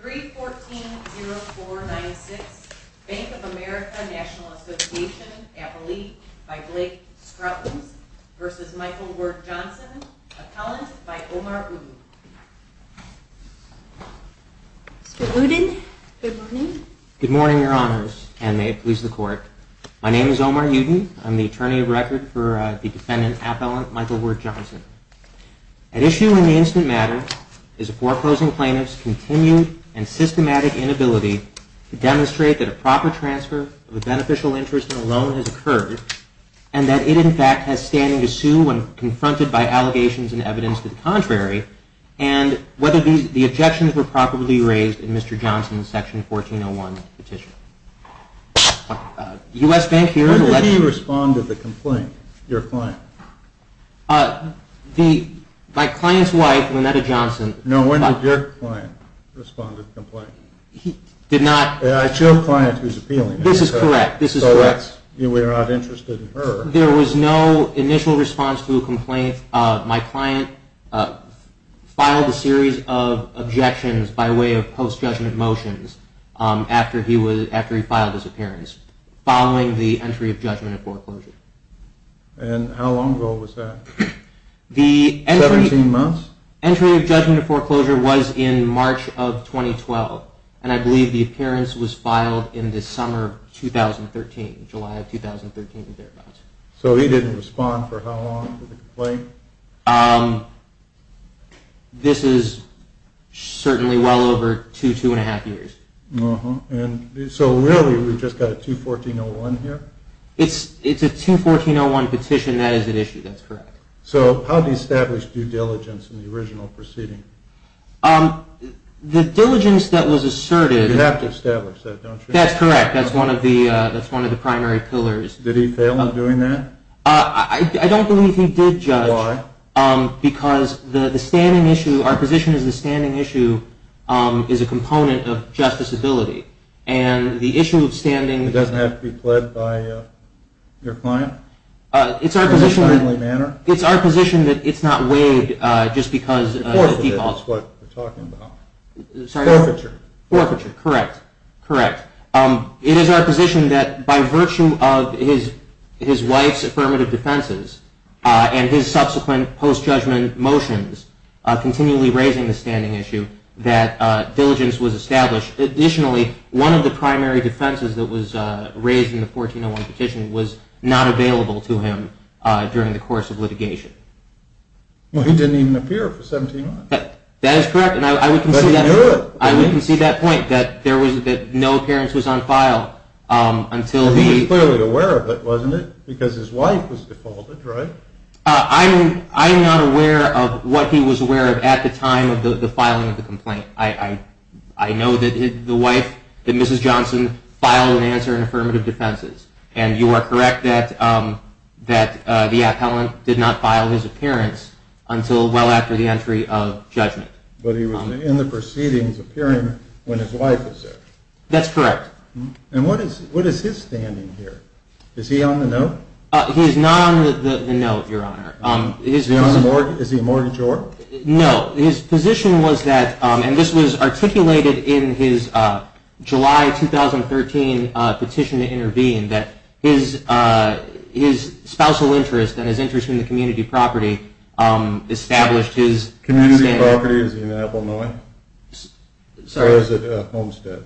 314-0496 Bank of America National Association, Appellate, by Blake Scruttons v. Michael Ward-Johnson, Appellant, by Omar Uden. Mr. Uden, good morning. Good morning, Your Honors, and may it please the Court. My name is Omar Uden. I'm the attorney of record for the defendant, Appellant Michael Ward-Johnson. At issue in the instant matter is a foreclosing plaintiff's continued and systematic inability to demonstrate that a proper transfer of a beneficial interest in a loan has occurred, and that it, in fact, has standing to sue when confronted by allegations and evidence to the contrary, and whether the objections were properly raised in Mr. Johnson's Section 1401 petition. When did he respond to the complaint, your client? My client's wife, Lynetta Johnson... No, when did your client respond to the complaint? He did not... It's your client who's appealing. This is correct. So we're not interested in her. There was no initial response to a complaint. My client filed a series of objections by way of post-judgment motions after he filed his appearance, following the entry of judgment in foreclosure. And how long ago was that? 17 months? The entry of judgment in foreclosure was in March of 2012, and I believe the appearance was filed in the summer of 2013, July of 2013. So he didn't respond for how long to the complaint? This is certainly well over two, two and a half years. So really, we've just got a 214-01 here? It's a 214-01 petition. That is at issue. That's correct. So how do you establish due diligence in the original proceeding? The diligence that was asserted... You have to establish that, don't you? That's correct. That's one of the primary pillars. Did he fail in doing that? I don't believe he did, Judge. Why? Because the standing issue, our position is the standing issue is a component of justice ability, and the issue of standing... It doesn't have to be pled by your client? It's our position... In a timely manner? It's our position that it's not weighed just because... Forfeiture is what we're talking about. Sorry? Forfeiture. Forfeiture. Correct. Correct. It is our position that by virtue of his wife's affirmative defenses and his subsequent post-judgment motions, continually raising the standing issue, that diligence was established. Additionally, one of the primary defenses that was raised in the 14-01 petition was not available to him during the course of litigation. Well, he didn't even appear for 17 months. That is correct. But he knew it. I would concede that point, that no appearance was on file until he... He was clearly aware of it, wasn't he? Because his wife was defaulted, right? I'm not aware of what he was aware of at the time of the filing of the complaint. I know that the wife, that Mrs. Johnson, filed an answer in affirmative defenses. And you are correct that the appellant did not file his appearance until well after the entry of judgment. But he was in the proceedings appearing when his wife was there. That's correct. And what is his standing here? Is he on the note? He is not on the note, Your Honor. Is he a mortgagor? No. His position was that, and this was articulated in his July 2013 petition to intervene, that his spousal interest and his interest in the community property established his... Community property is in Illinois? Sorry? Or is it a homestead?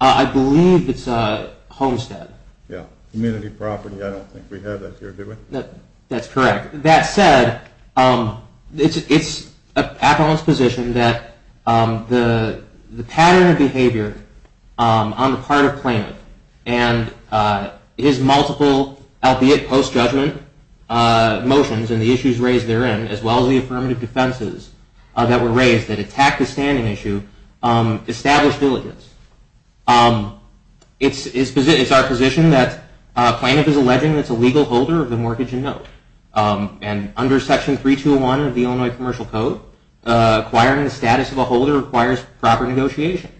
I believe it's a homestead. Yeah. Community property, I don't think we have that here, do we? That's correct. That said, it's appellant's position that the pattern of behavior on the part of Plaintiff and his multiple, albeit post-judgment, motions and the issues raised therein, as well as the affirmative defenses that were raised that attack the standing issue, established diligence. It's our position that Plaintiff is alleging that's a legal holder of the mortgage and note. And under Section 3201 of the Illinois Commercial Code, acquiring the status of a holder requires proper negotiation.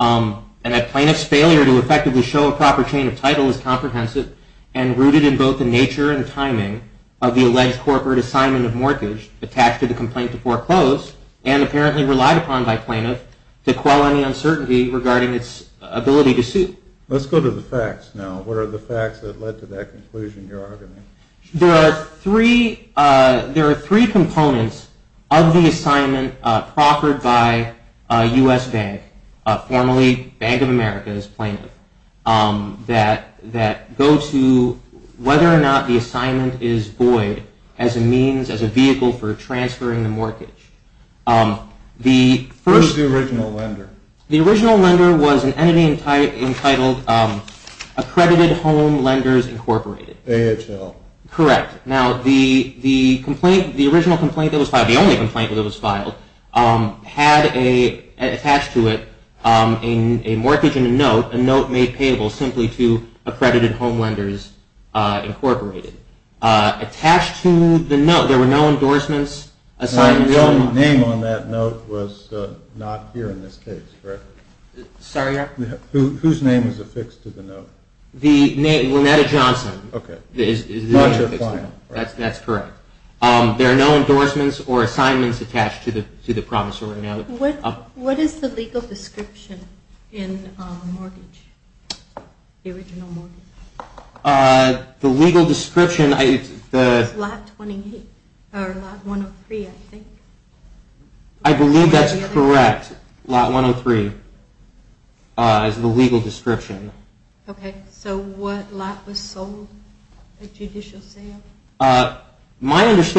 And that Plaintiff's failure to effectively show a proper chain of title is comprehensive and rooted in both the nature and timing of the alleged corporate assignment of mortgage attached to the complaint to foreclose and apparently relied upon by Plaintiff to quell any uncertainty regarding its ability to sue. Let's go to the facts now. What are the facts that led to that conclusion, your argument? There are three components of the assignment proffered by U.S. Bank, formerly Bank of America as Plaintiff, that go to whether or not the assignment is void as a means, as a vehicle for transferring the mortgage. Where's the original lender? The original lender was an entity entitled Accredited Home Lenders, Incorporated. AHL. Correct. Now, the original complaint that was filed, the only complaint that was filed, had attached to it a mortgage and a note, a note made payable simply to Accredited Home Lenders, Incorporated. Attached to the note, there were no endorsements, assignments. The name on that note was not here in this case, correct? Sorry? Whose name is affixed to the note? The name, Lynetta Johnson. Okay. That's correct. There are no endorsements or assignments attached to the promissory note. What is the legal description in mortgage, the original mortgage? The legal description… It's lot 28, or lot 103, I think. I believe that's correct. Lot 103 is the legal description. Okay. So what lot was sold at judicial sale? There's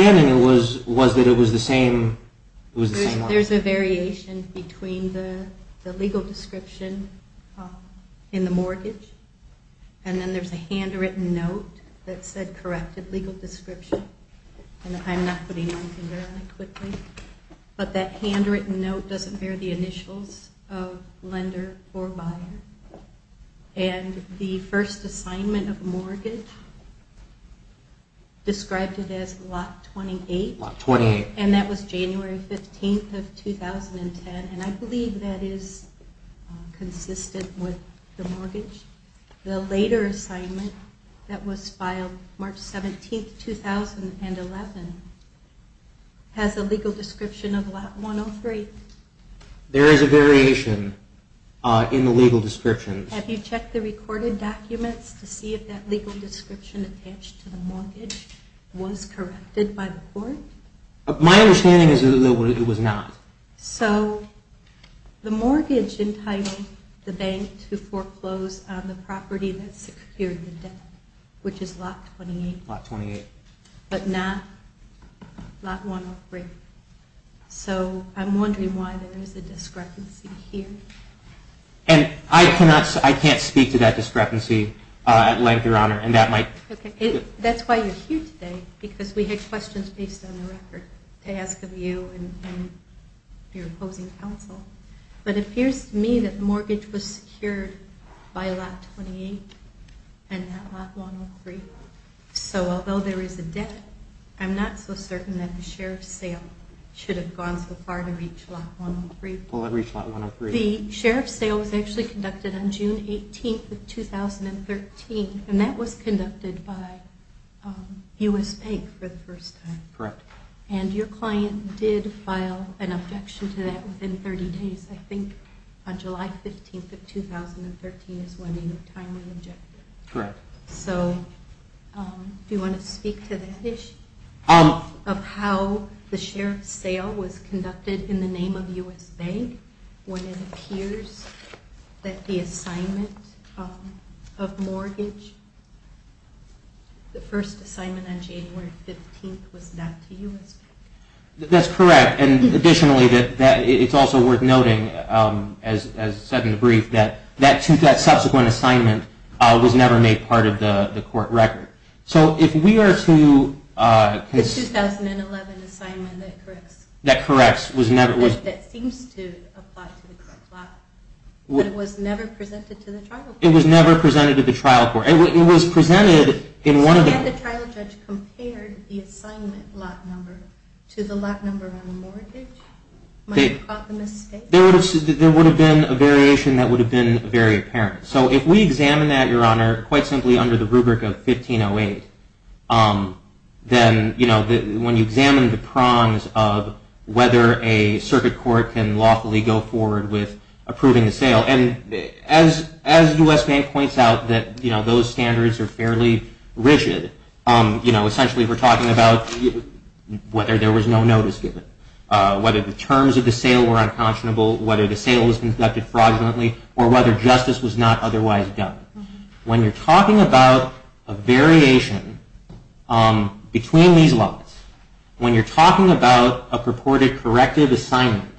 a variation between the legal description in the mortgage, and then there's a handwritten note that said, corrected legal description. I'm not putting my finger on it quickly. But that handwritten note doesn't bear the initials of lender or buyer. And the first assignment of mortgage described it as lot 28. Lot 28. And that was January 15th of 2010, and I believe that is consistent with the mortgage. The later assignment that was filed March 17th, 2011, has a legal description of lot 103. There is a variation in the legal description. Have you checked the recorded documents to see if that legal description attached to the mortgage was corrected by the court? My understanding is that it was not. So the mortgage entitled the bank to foreclose on the property that secured the debt, which is lot 28. Lot 28. But not lot 103. So I'm wondering why there is a discrepancy here. I can't speak to that discrepancy at length, Your Honor. That's why you're here today, because we had questions based on the record to ask of you and your opposing counsel. But it appears to me that the mortgage was secured by lot 28 and not lot 103. So although there is a debt, I'm not so certain that the share of sale should have gone so far to reach lot 103. The share of sale was actually conducted on June 18th, 2013, and that was conducted by U.S. Bank for the first time. Correct. And your client did file an objection to that within 30 days. I think on July 15th of 2013 is when the time was objected. Correct. So do you want to speak to that issue of how the share of sale was conducted in the name of U.S. Bank, when it appears that the assignment of mortgage, the first assignment on January 15th, was not to U.S. Bank? That's correct. And additionally, it's also worth noting, as said in the brief, that that subsequent assignment was never made part of the court record. So if we are to… The 2011 assignment that corrects. That seems to apply to the correct lot, but it was never presented to the trial court. It was never presented to the trial court. It was presented in one of the… So had the trial judge compared the assignment lot number to the lot number on the mortgage, might have caught the mistake? There would have been a variation that would have been very apparent. So if we examine that, Your Honor, quite simply under the rubric of 1508, then when you examine the prongs of whether a circuit court can lawfully go forward with approving the sale, and as U.S. Bank points out that those standards are fairly rigid, essentially we're talking about whether there was no notice given, whether the terms of the sale were unconscionable, whether the sale was conducted fraudulently, or whether justice was not otherwise done. When you're talking about a variation between these lots, when you're talking about a purported corrective assignment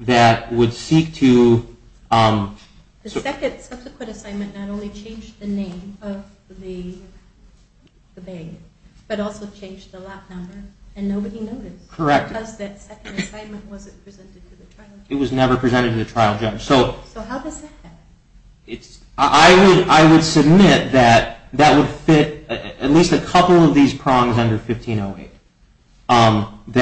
that would seek to… The second subsequent assignment not only changed the name of the bank, but also changed the lot number, and nobody noticed. Correct. Because that second assignment wasn't presented to the trial judge. It was never presented to the trial judge. So how does that happen? I would submit that that would fit at least a couple of these prongs under 1508.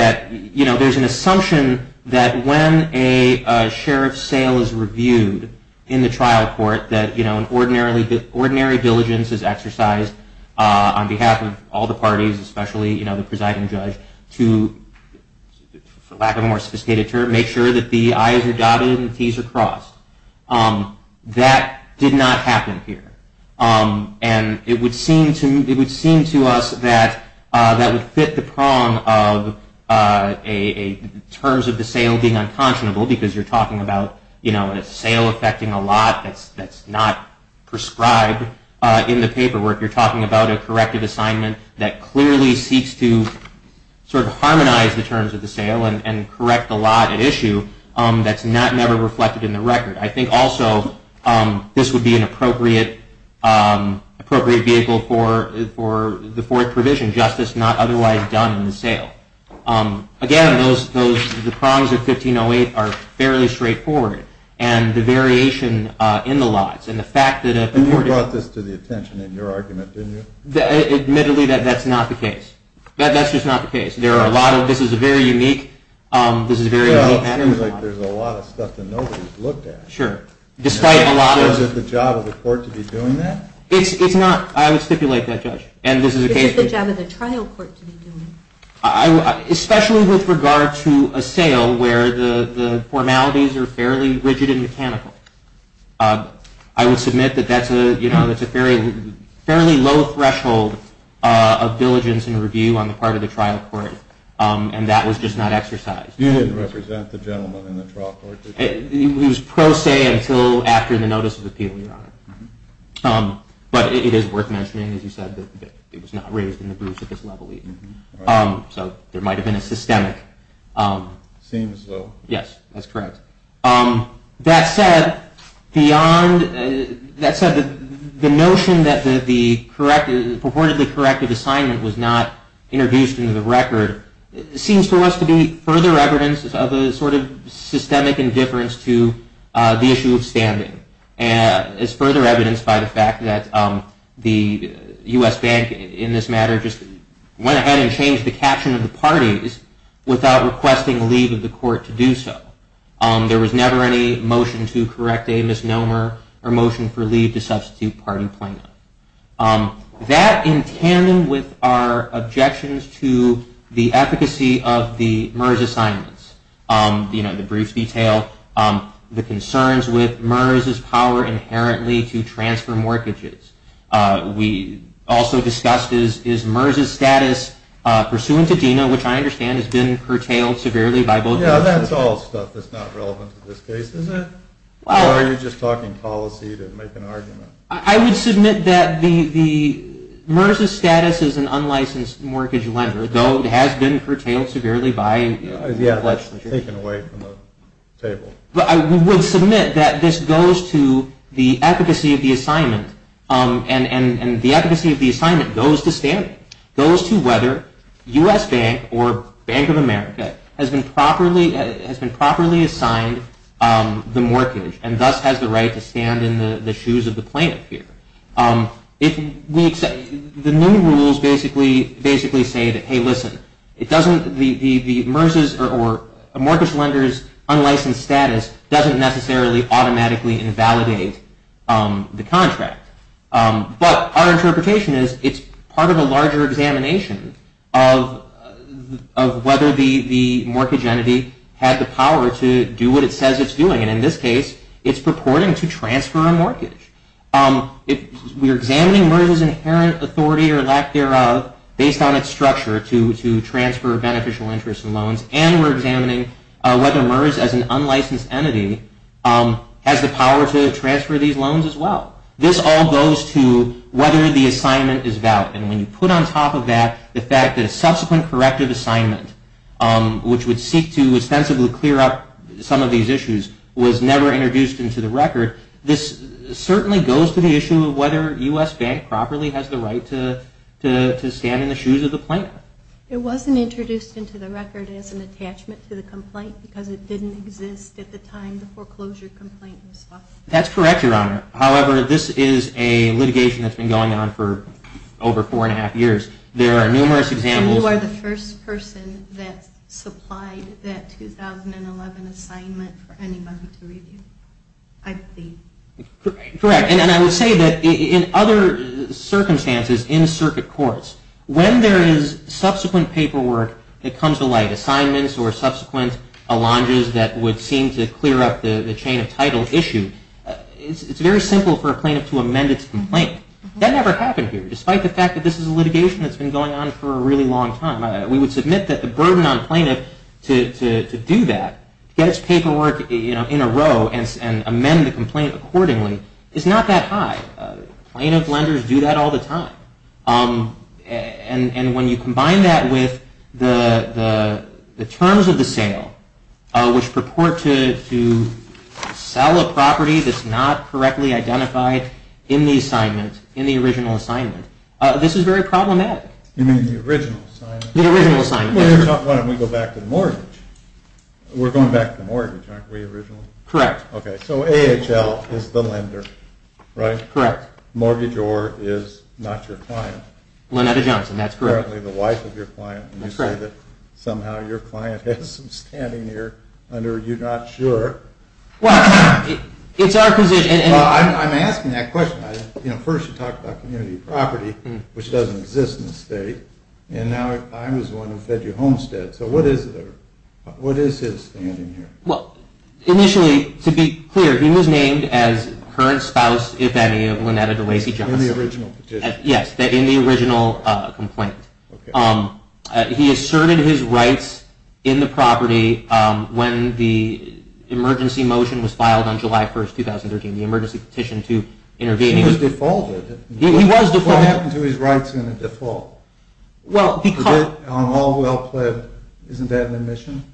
There's an assumption that when a sheriff's sale is reviewed in the trial court, that ordinary diligence is exercised on behalf of all the parties, especially the presiding judge, to, for lack of a more sophisticated term, make sure that the I's are dotted and the T's are crossed. That did not happen here. And it would seem to us that that would fit the prong of terms of the sale being unconscionable, because you're talking about a sale affecting a lot that's not prescribed in the paperwork. You're talking about a corrective assignment that clearly seeks to harmonize the terms of the sale and correct the lot at issue that's never reflected in the record. I think also this would be an appropriate vehicle for the Ford provision, justice not otherwise done in the sale. Again, the prongs of 1508 are fairly straightforward, and the variation in the lots, and the fact that a Ford is- And you brought this to the attention in your argument, didn't you? Admittedly, that's not the case. That's just not the case. There are a lot of- This is a very unique- Well, it seems like there's a lot of stuff that nobody's looked at. Sure. Despite a lot of- Is it the job of the court to be doing that? It's not. I would stipulate that, Judge. Is it the job of the trial court to be doing it? Especially with regard to a sale where the formalities are fairly rigid and mechanical. I would submit that that's a fairly low threshold of diligence and review on the part of the trial court, and that was just not exercised. You didn't represent the gentleman in the trial court, did you? It was pro se until after the notice of appeal, Your Honor. But it is worth mentioning, as you said, that it was not raised in the briefs at this level, even. So there might have been a systemic- Seems so. Yes, that's correct. That said, the notion that the purportedly corrective assignment was not introduced into the record seems to us to be further evidence of a sort of systemic indifference to the issue of standing. It's further evidenced by the fact that the U.S. Bank, in this matter, just went ahead and changed the caption of the parties without requesting leave of the court to do so. There was never any motion to correct a misnomer or motion for leave to substitute party plaintiff. That, in tandem with our objections to the efficacy of the MERS assignments, the brief detail, the concerns with MERS's power inherently to transfer mortgages. We also discussed is MERS's status pursuant to DINA, which I understand has been curtailed severely by both- Yeah, that's all stuff that's not relevant to this case, is it? Well- Or are you just talking policy to make an argument? I would submit that MERS's status as an unlicensed mortgage lender, though it has been curtailed severely by- Yeah, that's taken away from the table. I would submit that this goes to the efficacy of the assignment, and the efficacy of the assignment goes to standing. It goes to whether U.S. Bank or Bank of America has been properly assigned the mortgage and thus has the right to stand in the shoes of the plaintiff here. The new rules basically say that, hey, listen, the mortgage lender's unlicensed status doesn't necessarily automatically invalidate the contract. But our interpretation is it's part of a larger examination of whether the mortgage entity had the power to do what it says it's doing. And in this case, it's purporting to transfer a mortgage. We're examining MERS's inherent authority or lack thereof based on its structure to transfer beneficial interest and loans, and we're examining whether MERS as an unlicensed entity has the power to transfer these loans as well. This all goes to whether the assignment is valid. And when you put on top of that the fact that a subsequent corrective assignment, which would seek to ostensibly clear up some of these issues, was never introduced into the record, this certainly goes to the issue of whether U.S. Bank properly has the right to stand in the shoes of the plaintiff. It wasn't introduced into the record as an attachment to the complaint because it didn't exist at the time the foreclosure complaint was filed. That's correct, Your Honor. However, this is a litigation that's been going on for over four and a half years. There are numerous examples. And you are the first person that supplied that 2011 assignment for anybody to review, I believe. Correct. And I would say that in other circumstances in circuit courts, when there is subsequent paperwork that comes to light, assignments or subsequent allonges that would seem to clear up the chain of title issue, it's very simple for a plaintiff to amend its complaint. That never happened here, despite the fact that this is a litigation that's been going on for a really long time. We would submit that the burden on a plaintiff to do that, get its paperwork in a row and amend the complaint accordingly, is not that high. Plaintiff lenders do that all the time. And when you combine that with the terms of the sale which purport to sell a property that's not correctly identified in the assignment, in the original assignment, this is very problematic. You mean the original assignment? The original assignment, yes. Why don't we go back to the mortgage? We're going back to the mortgage, aren't we, originally? Correct. Okay, so AHL is the lender, right? Correct. Mortgageor is not your client. Lynetta Johnson, that's correct. Apparently the wife of your client. That's correct. And you say that somehow your client has some standing here under you're not sure. Well, it's our position. Well, I'm asking that question. First you talked about community property, which doesn't exist in the state. And now I was the one who fed you Homestead. So what is his standing here? Well, initially, to be clear, he was named as current spouse, if any, of Lynetta DeLacy Johnson. In the original petition. Yes, in the original complaint. Okay. He asserted his rights in the property when the emergency motion was filed on July 1, 2013, the emergency petition to intervene. He was defaulted. He was defaulted. What happened to his rights in the default? Well, because. On all well pled, isn't that an admission?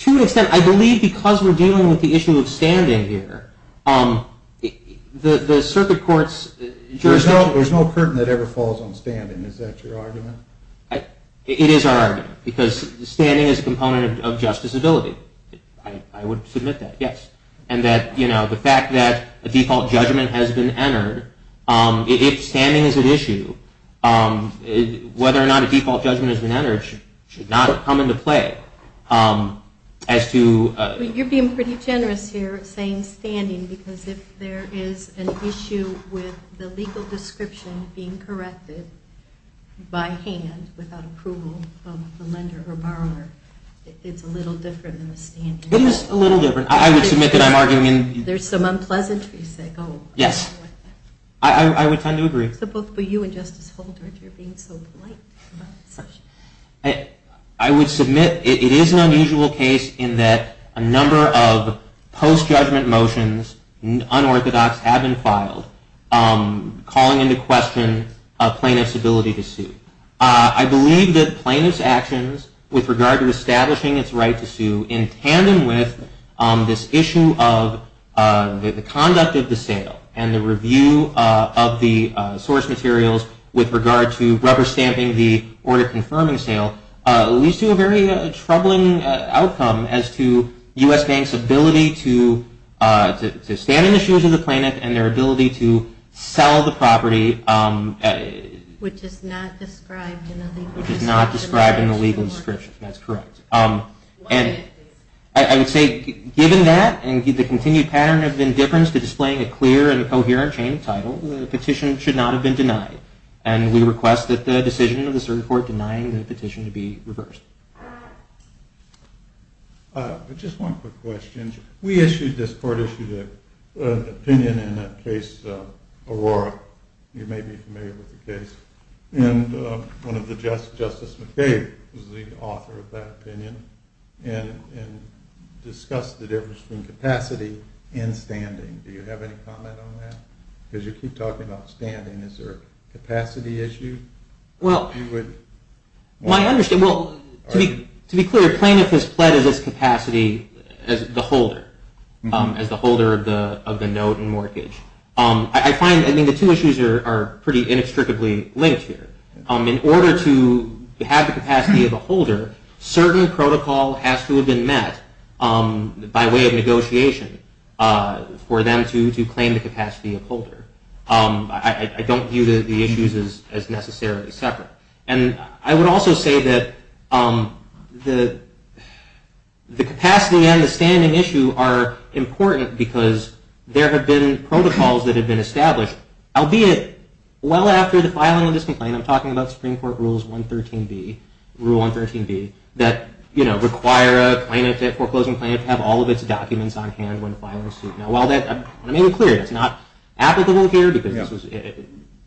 To an extent. I believe because we're dealing with the issue of standing here, the circuit court's jurisdiction. There's no curtain that ever falls on standing. Is that your argument? It is our argument. Because standing is a component of justice ability. I would submit that, yes. And that, you know, the fact that a default judgment has been entered, if standing is an issue, whether or not a default judgment has been entered should not come into play. As to. You're being pretty generous here, saying standing, because if there is an issue with the legal description being corrected by hand without approval of the lender or borrower, it's a little different than the standing. It is a little different. I would submit that I'm arguing. There's some unpleasantries that go with that. Yes. I would tend to agree. So both for you and Justice Holder, if you're being so polite about such. I would submit it is an unusual case in that a number of post-judgment motions, unorthodox, have been filed, calling into question a plaintiff's ability to sue. I believe that plaintiff's actions with regard to establishing its right to sue, in tandem with this issue of the conduct of the sale and the review of the source materials with regard to rubber stamping the order confirming sale, leads to a very troubling outcome as to U.S. banks' ability to stand in the shoes of the plaintiff and their ability to sell the property. Which is not described in the legal description. Which is not described in the legal description. That's correct. I would say given that and the continued pattern of indifference to displaying a clear and coherent change of title, the petition should not have been denied. And we request that the decision of the Supreme Court denying the petition to be reversed. Just one quick question. We issued, this court issued, an opinion in the case of Aurora. You may be familiar with the case. And Justice McCabe was the author of that opinion and discussed the difference between capacity and standing. Do you have any comment on that? Because you keep talking about standing. Is there a capacity issue? Well, to be clear, plaintiff has pledged its capacity as the holder of the note and mortgage. I find the two issues are pretty inextricably linked here. In order to have the capacity of a holder, certain protocol has to have been met by way of negotiation for them to claim the capacity of holder. I don't view the issues as necessarily separate. And I would also say that the capacity and the standing issue are important because there have been protocols that have been established, albeit well after the filing of this complaint. I'm talking about Supreme Court Rule 113B that require a foreclosing plaintiff to have all of its documents on hand when filing a suit. I made it clear that's not applicable here.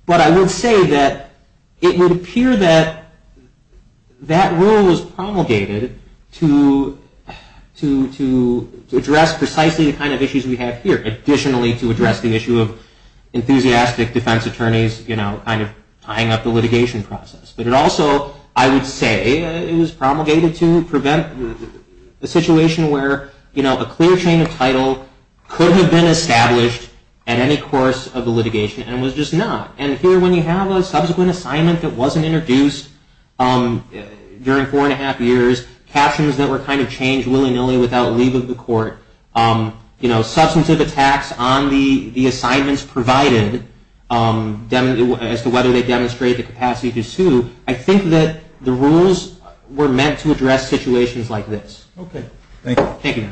But I would say that it would appear that that rule was promulgated to address precisely the kind of issues we have here. Additionally, to address the issue of enthusiastic defense attorneys kind of tying up the litigation process. But it also, I would say, is promulgated to prevent the situation where a clear chain of title could have been established at any course of the litigation and was just not. And here when you have a subsequent assignment that wasn't introduced during four and a half years, captions that were kind of changed willy-nilly without leave of the court, substantive attacks on the assignments provided as to whether they demonstrate the capacity to sue, I think that the rules were meant to address situations like this. Okay. Thank you. Thank you, Your Honor.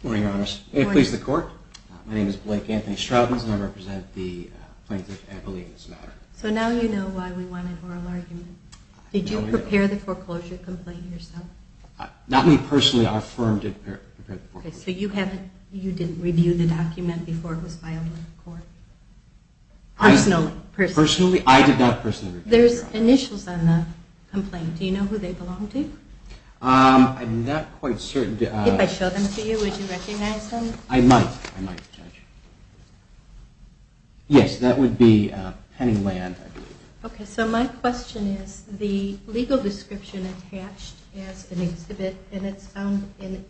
Good morning, Your Honor. Good morning. May it please the Court? My name is Blake Anthony Stroudens, and I represent the Plaintiff Appellee in this matter. So now you know why we wanted oral argument. Did you prepare the foreclosure complaint yourself? Not me personally. Our firm did prepare the foreclosure complaint. Okay. So you didn't review the document before it was filed in court? No. Okay. Personally. Personally? I did not personally review it. There's initials on the complaint. Do you know who they belong to? I'm not quite certain. If I showed them to you, would you recognize them? I might. I might, Judge. Yes, that would be Penning Land, I believe. Okay. So my question is the legal description attached as an exhibit, and it's found in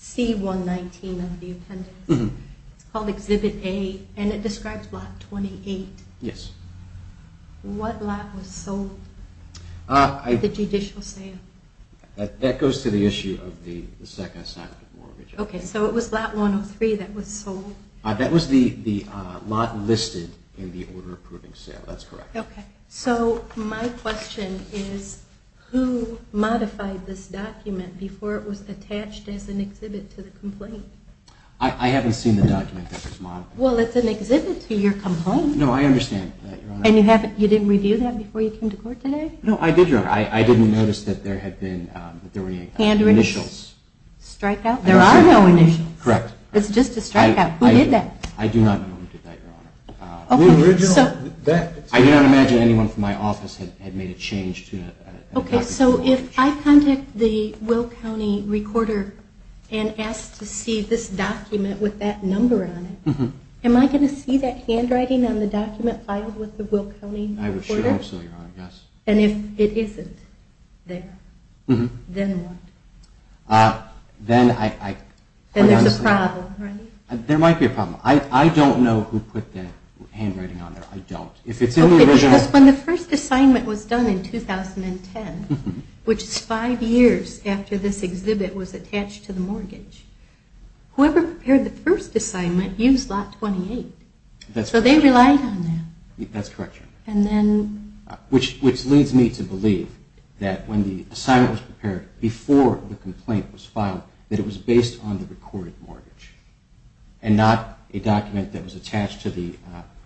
C119 of the appendix. It's called Exhibit A, and it describes Lot 28. Yes. What lot was sold at the judicial sale? That goes to the issue of the second assignment mortgage. Okay. So it was Lot 103 that was sold? That was the lot listed in the order approving sale. That's correct. Okay. So my question is who modified this document before it was attached as an exhibit to the complaint? I haven't seen the document that was modified. Well, it's an exhibit to your complaint. No, I understand that, Your Honor. And you didn't review that before you came to court today? No, I did, Your Honor. I didn't notice that there were any initials. Strikeout? There are no initials. Correct. It's just a strikeout. Who did that? I do not know who did that, Your Honor. I do not imagine anyone from my office had made a change to the document. Okay. So if I contact the Will County Recorder and ask to see this document with that number on it, am I going to see that handwriting on the document filed with the Will County Recorder? I assure you, Your Honor, yes. And if it isn't there, then what? Then I... Then there's a problem, right? There might be a problem. I don't know who put that handwriting on there. I don't. Because when the first assignment was done in 2010, which is five years after this exhibit was attached to the mortgage, whoever prepared the first assignment used Lot 28. So they relied on that. That's correct, Your Honor. And then... Which leads me to believe that when the assignment was prepared before the complaint was filed, that it was based on the recorded mortgage and not a document that was attached to the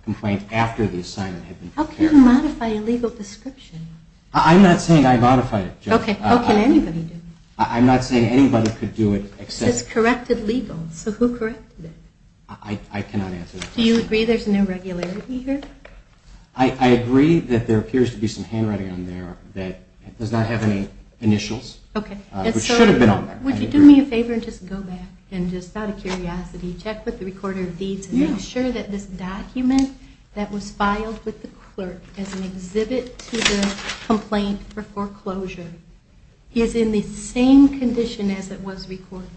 complaint after the assignment had been prepared. How can you modify a legal description? I'm not saying I modified it, Judge. Okay. How can anybody do that? I'm not saying anybody could do it except... It's corrected legal. So who corrected it? I cannot answer that question. Do you agree there's an irregularity here? I agree that there appears to be some handwriting on there that does not have any initials, which should have been on there. Would you do me a favor and just go back and, just out of curiosity, check with the recorder of deeds and make sure that this document that was filed with the clerk as an exhibit to the complaint for foreclosure is in the same condition as it was recorded.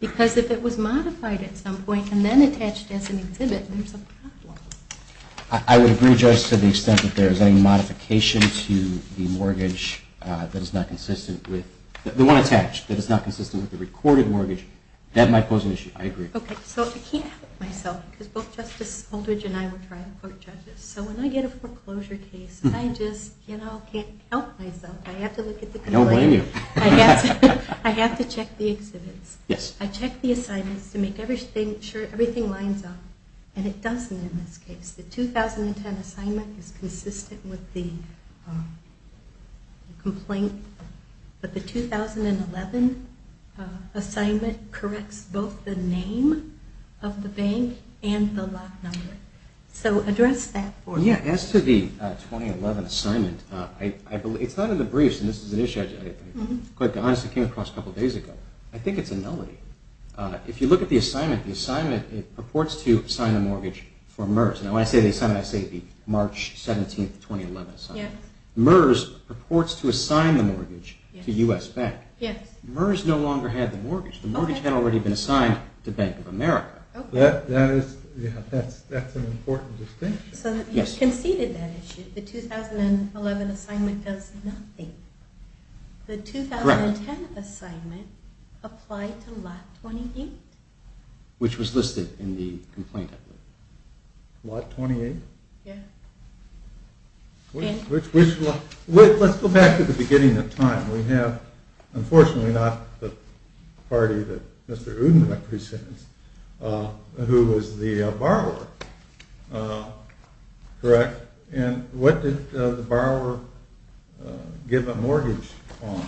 Because if it was modified at some point and then attached as an exhibit, there's a problem. I would agree, Judge, to the extent that there is any modification to the mortgage that is not consistent with the recorded mortgage, that might pose an issue. I agree. Okay. So I can't help myself because both Justice Aldridge and I were trial court judges. So when I get a foreclosure case, I just can't help myself. I have to look at the complaint. I don't blame you. I have to check the exhibits. Yes. I check the assignments to make sure everything lines up, and it doesn't in this case. The 2010 assignment is consistent with the complaint, but the 2011 assignment corrects both the name of the bank and the lot number. So address that for me. Yes. As to the 2011 assignment, it's not in the briefs, and this is an issue I honestly came across a couple days ago. I think it's a nullity. If you look at the assignment, it purports to assign a mortgage for MERS. When I say the assignment, I say the March 17, 2011 assignment. MERS purports to assign the mortgage to U.S. Bank. MERS no longer had the mortgage. The mortgage had already been assigned to Bank of America. That's an important distinction. So you conceded that issue. The 2011 assignment does nothing. The 2010 assignment applied to lot 28? Which was listed in the complaint. Lot 28? Yes. Let's go back to the beginning of time. We have, unfortunately, not the party that Mr. Udenbeck presents, who was the borrower, correct? And what did the borrower give a mortgage on?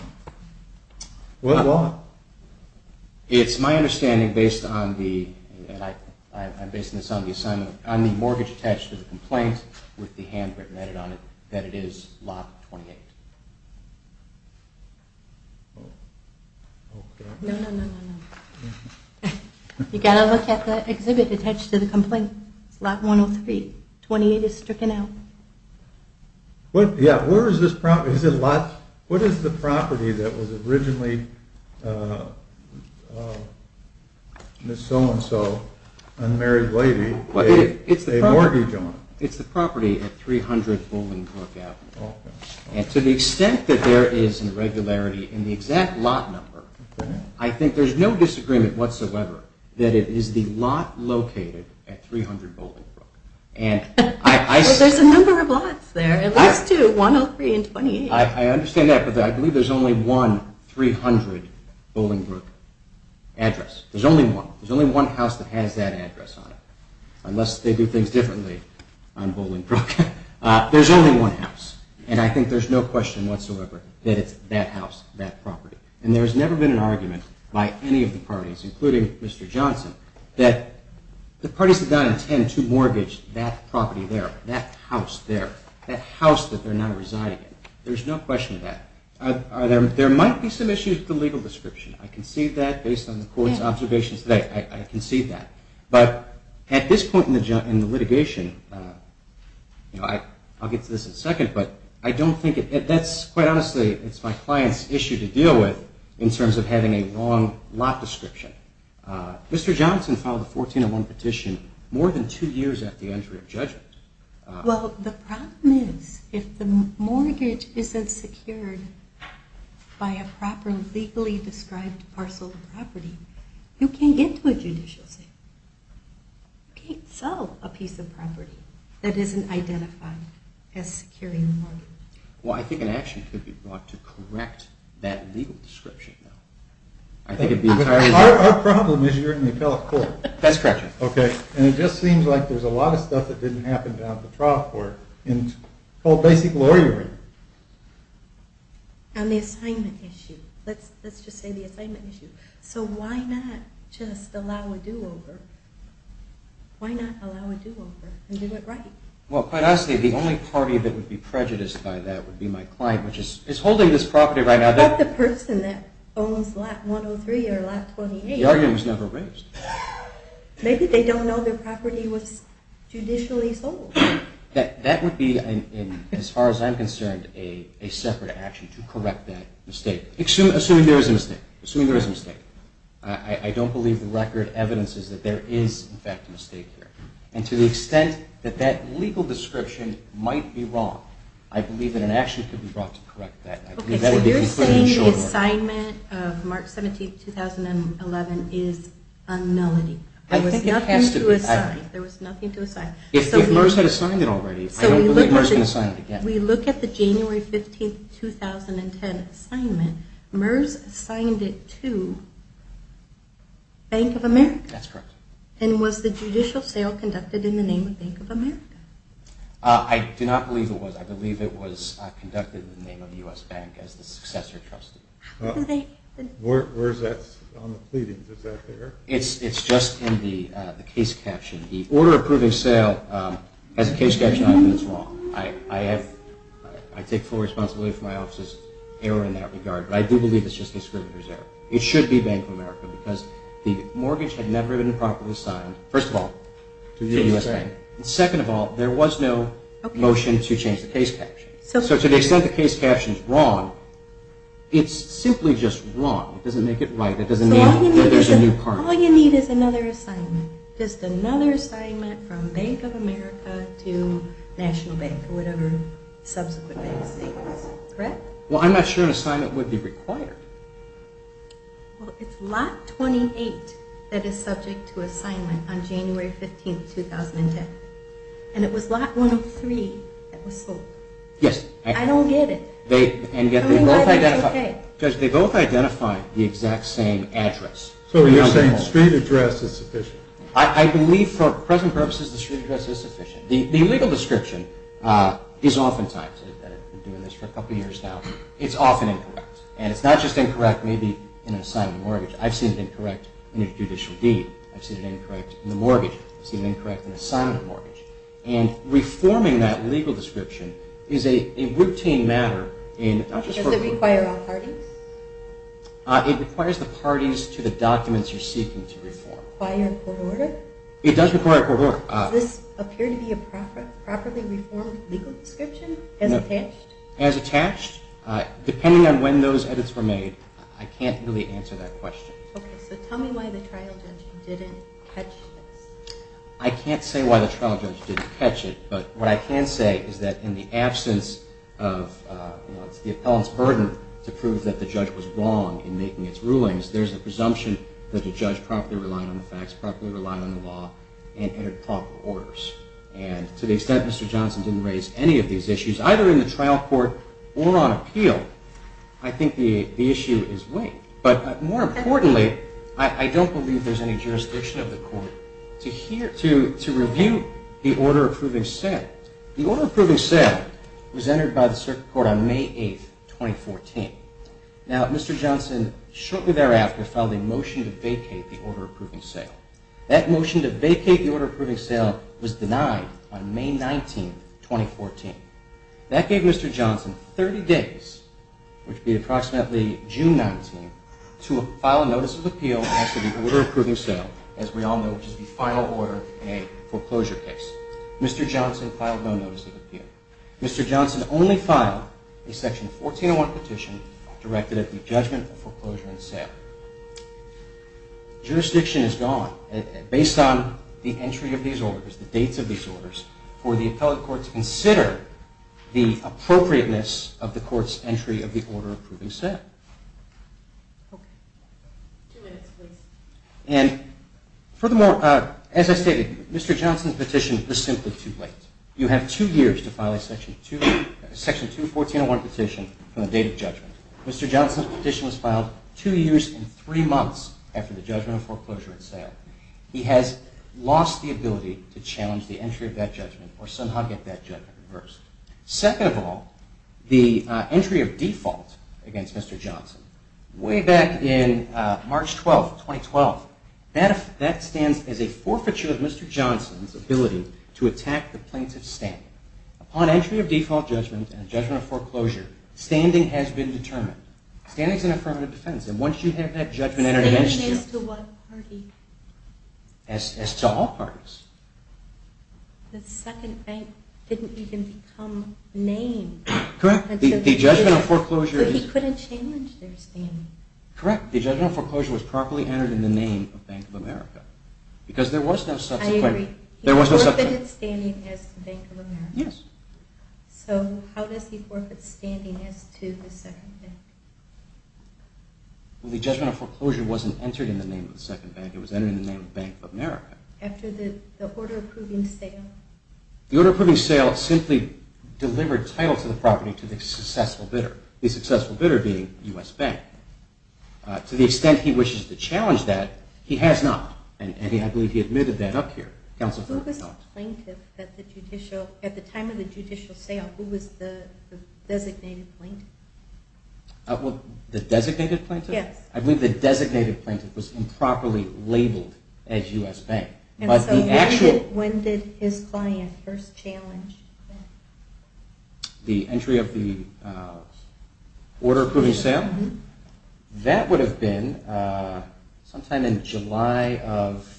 What lot? It's my understanding, based on the mortgage attached to the complaint with the handwritten edit on it, that it is lot 28. No, no, no, no. You've got to look at the exhibit attached to the complaint. It's lot 103. 28 is stricken out. What is the property that was originally Ms. So-and-so, unmarried lady, gave a mortgage on? It's the property at 300 Bolingbrook Avenue. And to the extent that there is an irregularity in the exact lot number, I think there's no disagreement whatsoever that it is the lot located at 300 Bolingbrook. But there's a number of lots there. At least two, 103 and 28. I understand that, but I believe there's only one 300 Bolingbrook address. There's only one. There's only one house that has that address on it, unless they do things differently on Bolingbrook. There's only one house. And I think there's no question whatsoever that it's that house, that property. And there's never been an argument by any of the parties, including Mr. Johnson, that the parties did not intend to mortgage that property there, that house there, that house that they're now residing in. There's no question of that. There might be some issues with the legal description. I can see that based on the court's observations today. I can see that. Quite honestly, it's my client's issue to deal with in terms of having a wrong lot description. Mr. Johnson filed a 1401 petition more than two years after the entry of judgment. Well, the problem is if the mortgage isn't secured by a proper legally described parcel of property, you can't get to a judicial suit. You can't sell a piece of property that isn't identified as securing a mortgage. Well, I think an action could be brought to correct that legal description, though. Our problem is you're in the appellate court. That's correct. And it just seems like there's a lot of stuff that didn't happen down at the trial court called basic lawyering. On the assignment issue. Let's just say the assignment issue. So why not just allow a do-over? Why not allow a do-over and do it right? Well, quite honestly, the only party that would be prejudiced by that would be my client, which is holding this property right now. What about the person that owns lot 103 or lot 28? The argument was never raised. Maybe they don't know their property was judicially sold. That would be, as far as I'm concerned, a separate action to correct that mistake, assuming there is a mistake. I don't believe the record evidences that there is, in fact, a mistake here. And to the extent that that legal description might be wrong, I believe that an action could be brought to correct that. You're saying the assignment of March 17, 2011 is a nullity. I think it has to be. There was nothing to assign. If MERS had assigned it already, I don't believe MERS can assign it again. We look at the January 15, 2010 assignment. MERS assigned it to Bank of America. That's correct. And was the judicial sale conducted in the name of Bank of America? I do not believe it was. I believe it was conducted in the name of U.S. Bank as the successor trustee. Where is that on the pleadings? Is that there? It's just in the case caption. The order approving sale has a case caption on it that's wrong. I take full responsibility for my office's error in that regard, but I do believe it's just the inscriber's error. It should be Bank of America because the mortgage had never been properly assigned, first of all, to the U.S. Bank, and second of all, there was no motion to change the case caption. So to the extent the case caption is wrong, it's simply just wrong. It doesn't make it right. It doesn't mean that there's a new partner. So all you need is another assignment. Just another assignment from Bank of America to National Bank or whatever subsequent bank state is. Correct? Well, I'm not sure an assignment would be required. Well, it's lot 28 that is subject to assignment on January 15, 2010, and it was lot 103 that was sold. Yes. I don't get it. And yet they both identify the exact same address. So you're saying street address is sufficient. I believe for present purposes the street address is sufficient. The legal description is oftentimes, and I've been doing this for a couple of years now, it's often incorrect. And it's not just incorrect maybe in an assignment mortgage. I've seen it incorrect in a judicial deed. I've seen it incorrect in a mortgage. I've seen it incorrect in an assignment mortgage. And reforming that legal description is a routine matter in not just for- Does it require all parties? It requires the parties to the documents you're seeking to reform. By a court order? It does require a court order. Does this appear to be a properly reformed legal description as attached? As attached? Depending on when those edits were made, I can't really answer that question. Okay. So tell me why the trial judge didn't catch this. I can't say why the trial judge didn't catch it, but what I can say is that in the absence of the appellant's burden to prove that the judge was wrong in making its rulings, there's a presumption that the judge properly relied on the facts, properly relied on the law, and entered proper orders. And to the extent Mr. Johnson didn't raise any of these issues, either in the trial court or on appeal, I think the issue is weighed. But more importantly, I don't believe there's any jurisdiction of the court to review the order approving sale. The order approving sale was entered by the circuit court on May 8, 2014. Now, Mr. Johnson shortly thereafter filed a motion to vacate the order approving sale. That motion to vacate the order approving sale was denied on May 19, 2014. That gave Mr. Johnson 30 days, which would be approximately June 19, to file a notice of appeal after the order approving sale, as we all know, which is the final order in a foreclosure case. Mr. Johnson filed no notice of appeal. Mr. Johnson only filed a Section 1401 petition directed at the judgment of foreclosure and sale. Jurisdiction is gone. Based on the entry of these orders, the dates of these orders, for the appellate court to consider the appropriateness of the court's entry of the order approving sale. Okay. Two minutes, please. And furthermore, as I stated, Mr. Johnson's petition was simply too late. You have two years to file a Section 21401 petition from the date of judgment. Mr. Johnson's petition was filed two years and three months after the judgment of foreclosure and sale. He has lost the ability to challenge the entry of that judgment or somehow get that judgment reversed. Second of all, the entry of default against Mr. Johnson, way back in March 12, 2012, that stands as a forfeiture of Mr. Johnson's ability to attack the plaintiff's standing. Upon entry of default judgment and judgment of foreclosure, standing has been determined. Standing is an affirmative defense, and once you have that judgment entered against you- Standing is to what party? As to all parties. The second bank didn't even become named. Correct. The judgment of foreclosure is- He couldn't challenge their standing. Correct. The judgment of foreclosure was properly entered in the name of Bank of America. Because there was no subsequent- I agree. He forfeited standing as to Bank of America. Yes. So how does he forfeit standing as to the second bank? Well, the judgment of foreclosure wasn't entered in the name of the second bank. It was entered in the name of Bank of America. After the order approving sale? The order approving sale simply delivered title to the property to the successful bidder, the successful bidder being U.S. Bank. To the extent he wishes to challenge that, he has not, and I believe he admitted that up here. Who was the plaintiff at the time of the judicial sale? Who was the designated plaintiff? The designated plaintiff? Yes. I believe the designated plaintiff was improperly labeled as U.S. Bank. And so when did his client first challenge that? The entry of the order approving sale? That would have been sometime in July of-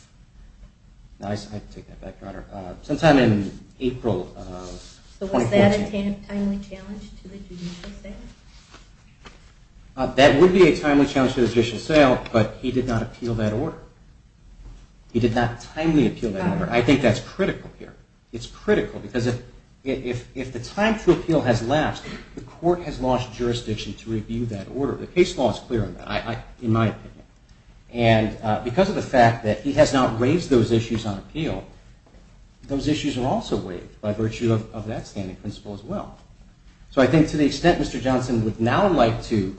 I have to take that back, Your Honor. Sometime in April of 2014. So was that a timely challenge to the judicial sale? That would be a timely challenge to the judicial sale, but he did not appeal that order. He did not timely appeal that order. I think that's critical here. It's critical because if the time for appeal has lapsed, the court has lost jurisdiction to review that order. The case law is clear on that, in my opinion. And because of the fact that he has not raised those issues on appeal, those issues are also waived by virtue of that standing principle as well. So I think to the extent Mr. Johnson would now like to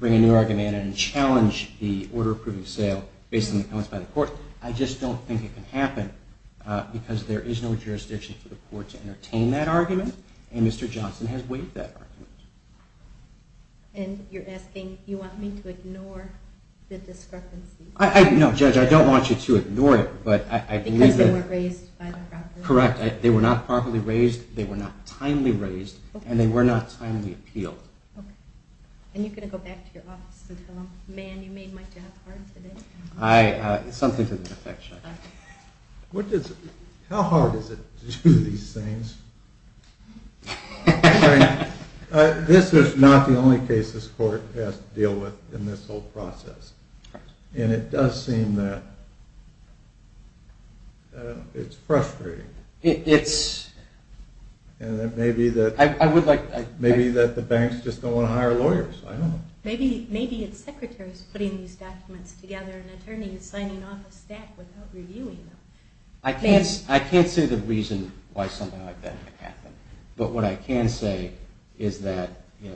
bring a new argument and challenge the order approving sale based on the comments by the court, I just don't think it can happen because there is no jurisdiction for the court to entertain that argument, and Mr. Johnson has waived that argument. And you're asking, you want me to ignore the discrepancy? No, Judge, I don't want you to ignore it, but I believe that- Because they were raised by the proper- And they were not timely appealed. And you're going to go back to your office and tell them, man, you made my job hard today? Something to that effect, Judge. How hard is it to do these things? This is not the only case this court has to deal with in this whole process, and it does seem that it's frustrating. It's- And it may be that- I would like- Maybe that the banks just don't want to hire lawyers, I don't know. Maybe it's secretaries putting these documents together and attorneys signing off a stack without reviewing them. I can't say the reason why something like that didn't happen, but what I can say is that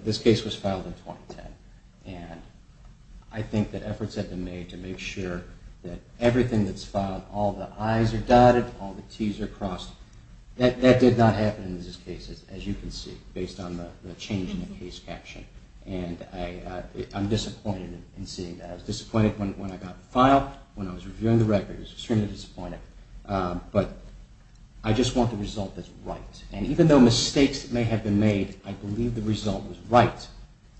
this case was filed in 2010, and I think that efforts have been made to make sure that everything that's filed, all the I's are dotted, all the T's are crossed. That did not happen in this case, as you can see, based on the change in the case caption. And I'm disappointed in seeing that. I was disappointed when I got the file, when I was reviewing the record. I was extremely disappointed. But I just want the result that's right. And even though mistakes may have been made, I believe the result was right,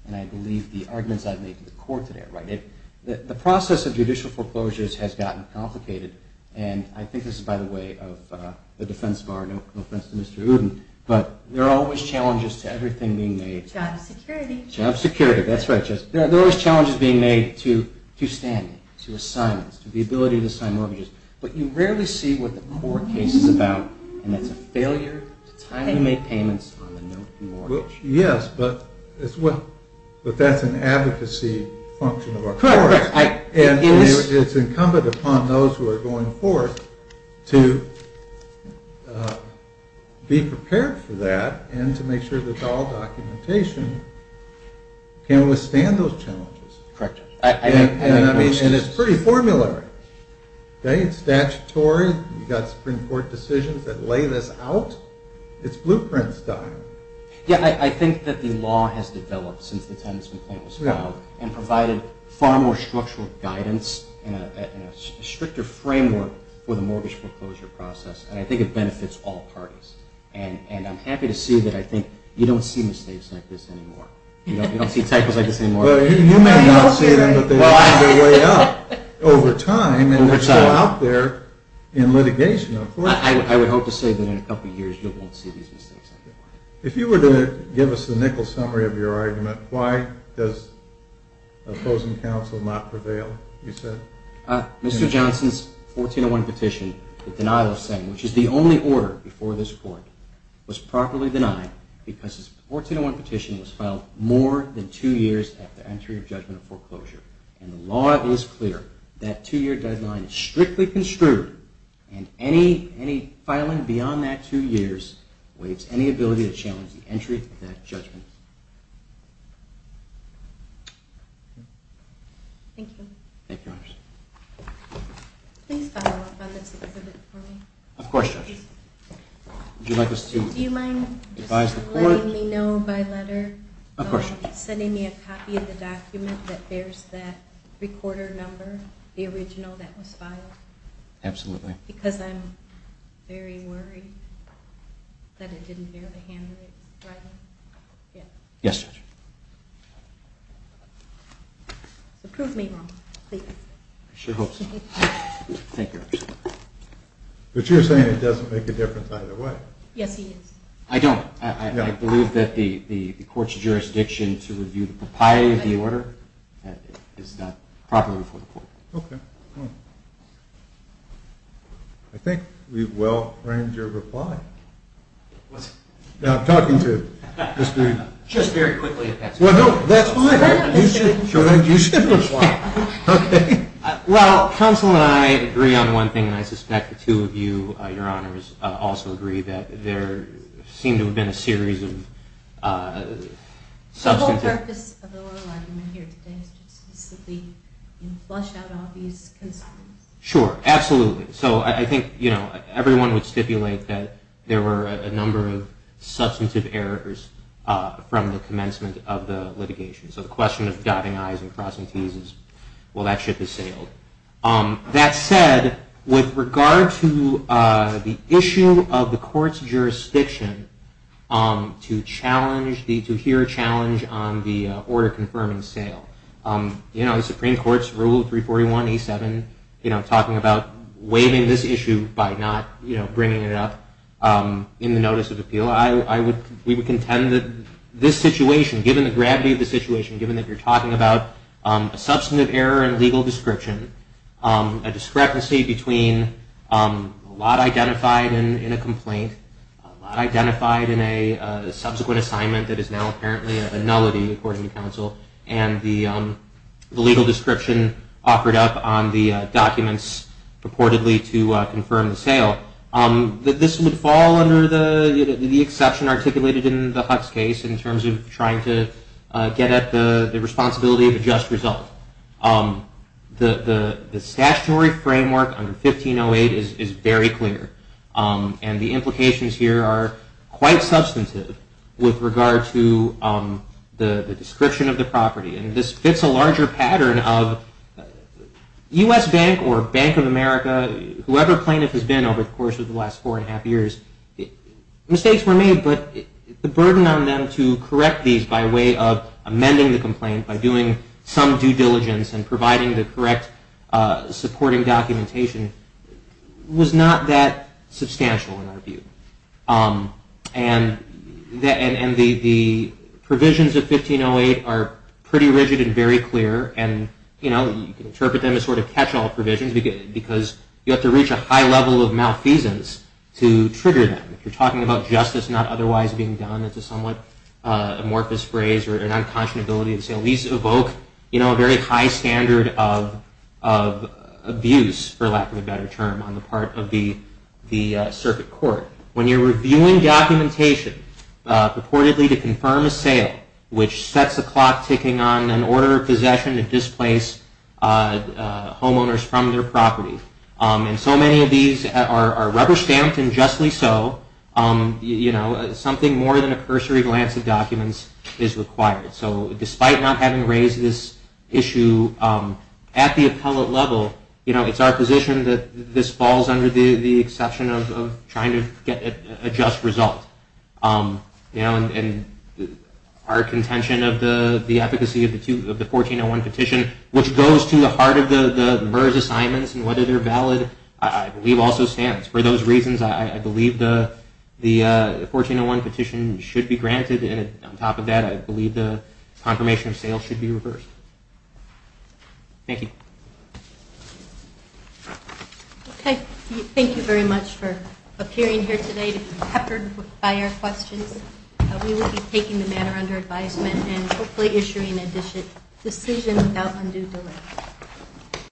and I believe the arguments I've made to the court today are right. The process of judicial foreclosures has gotten complicated, and I think this is by the way of the defense bar, no offense to Mr. Uden, but there are always challenges to everything being made. Job security. Job security, that's right. There are always challenges being made to standing, to assignments, to the ability to sign mortgages, but you rarely see what the court case is about, and that's a failure to timely make payments on the note of mortgage. Yes, but that's an advocacy function of our courts. And it's incumbent upon those who are going forth to be prepared for that and to make sure that all documentation can withstand those challenges. Correct. And it's pretty formulary. It's statutory. You've got Supreme Court decisions that lay this out. It's blueprint style. Yeah, I think that the law has developed since the time this complaint was filed and provided far more structural guidance and a stricter framework for the mortgage foreclosure process, and I think it benefits all parties. And I'm happy to see that I think you don't see mistakes like this anymore. You don't see typos like this anymore. You may not see them, but they're on their way up over time, and they're still out there in litigation. I would hope to say that in a couple of years you won't see these mistakes anymore. If you were to give us the nickel summary of your argument, why does opposing counsel not prevail, you said? Mr. Johnson's 1401 petition, the denial of saying, which is the only order before this court, was properly denied because his 1401 petition was filed more than two years after entry of judgment of foreclosure. And the law is clear. That two-year deadline is strictly construed, and any filing beyond that two years waives any ability to challenge the entry of that judgment. Thank you. Thank you, Your Honors. Please follow up on this exhibit for me. Of course, Judge. Would you like us to advise the court? Do you mind letting me know by letter? Of course, Judge. Are you sending me a copy of the document that bears that recorder number, the original that was filed? Absolutely. Because I'm very worried that it didn't bear the handwriting. Yes, Judge. So prove me wrong, please. I sure hope so. Thank you, Your Honor. But you're saying it doesn't make a difference either way. Yes, it is. I don't. I believe that the court's jurisdiction to review the propriety of the order is not properly before the court. Okay. I think we've well framed your reply. What's it? I'm talking to you. Just very quickly, Your Honor. Well, no, that's fine. You should reply. Okay. Well, counsel and I agree on one thing, and I suspect the two of you, Your Honors, also agree that there seemed to have been a series of substantive... The whole purpose of the oral argument here today is just to simply flush out all these concerns. Sure. Absolutely. So I think everyone would stipulate that there were a number of substantive errors from the commencement of the litigation. So the question of dotting I's and crossing T's is, well, that ship has sailed. That said, with regard to the issue of the court's jurisdiction to hear a challenge on the order confirming sale, you know, the Supreme Court's Rule 341A7, you know, talking about waiving this issue by not bringing it up in the notice of appeal, we would contend that this situation, given the gravity of the situation, given that you're talking about a substantive error in legal description, a discrepancy between a lot identified in a complaint, a lot identified in a subsequent assignment that is now apparently a nullity, according to counsel, and the legal description offered up on the documents purportedly to confirm the sale, that this would fall under the exception articulated in the Huck's case in terms of trying to get at the responsibility of a just result. The statutory framework under 1508 is very clear, and the implications here are quite substantive with regard to the description of the property. And this fits a larger pattern of U.S. Bank or Bank of America, whoever plaintiff has been over the course of the last four and a half years, mistakes were made, but the burden on them to correct these by way of amending the complaint, by doing some due diligence and providing the correct supporting documentation, was not that substantial in our view. And the provisions of 1508 are pretty rigid and very clear, and you can interpret them as sort of catch-all provisions, because you have to reach a high level of malfeasance to trigger them. If you're talking about justice not otherwise being done, it's a somewhat amorphous phrase or an unconscionability to say, at least evoke a very high standard of abuse, for lack of a better term, on the part of the circuit court. When you're reviewing documentation purportedly to confirm a sale, which sets a clock ticking on an order of possession to displace homeowners from their property, and so many of these are rubber-stamped and justly so, something more than a cursory glance at documents is required. So despite not having raised this issue at the appellate level, it's our position that this falls under the exception of trying to get a just result. Our contention of the efficacy of the 1401 petition, which goes to the heart of the MERS assignments and whether they're valid, I believe also stands. For those reasons, I believe the 1401 petition should be granted, and on top of that, I believe the confirmation of sale should be reversed. Thank you. Okay, thank you very much for appearing here today to be peppered by our questions. We will be taking the matter under advisement and hopefully issuing a decision without undue delay.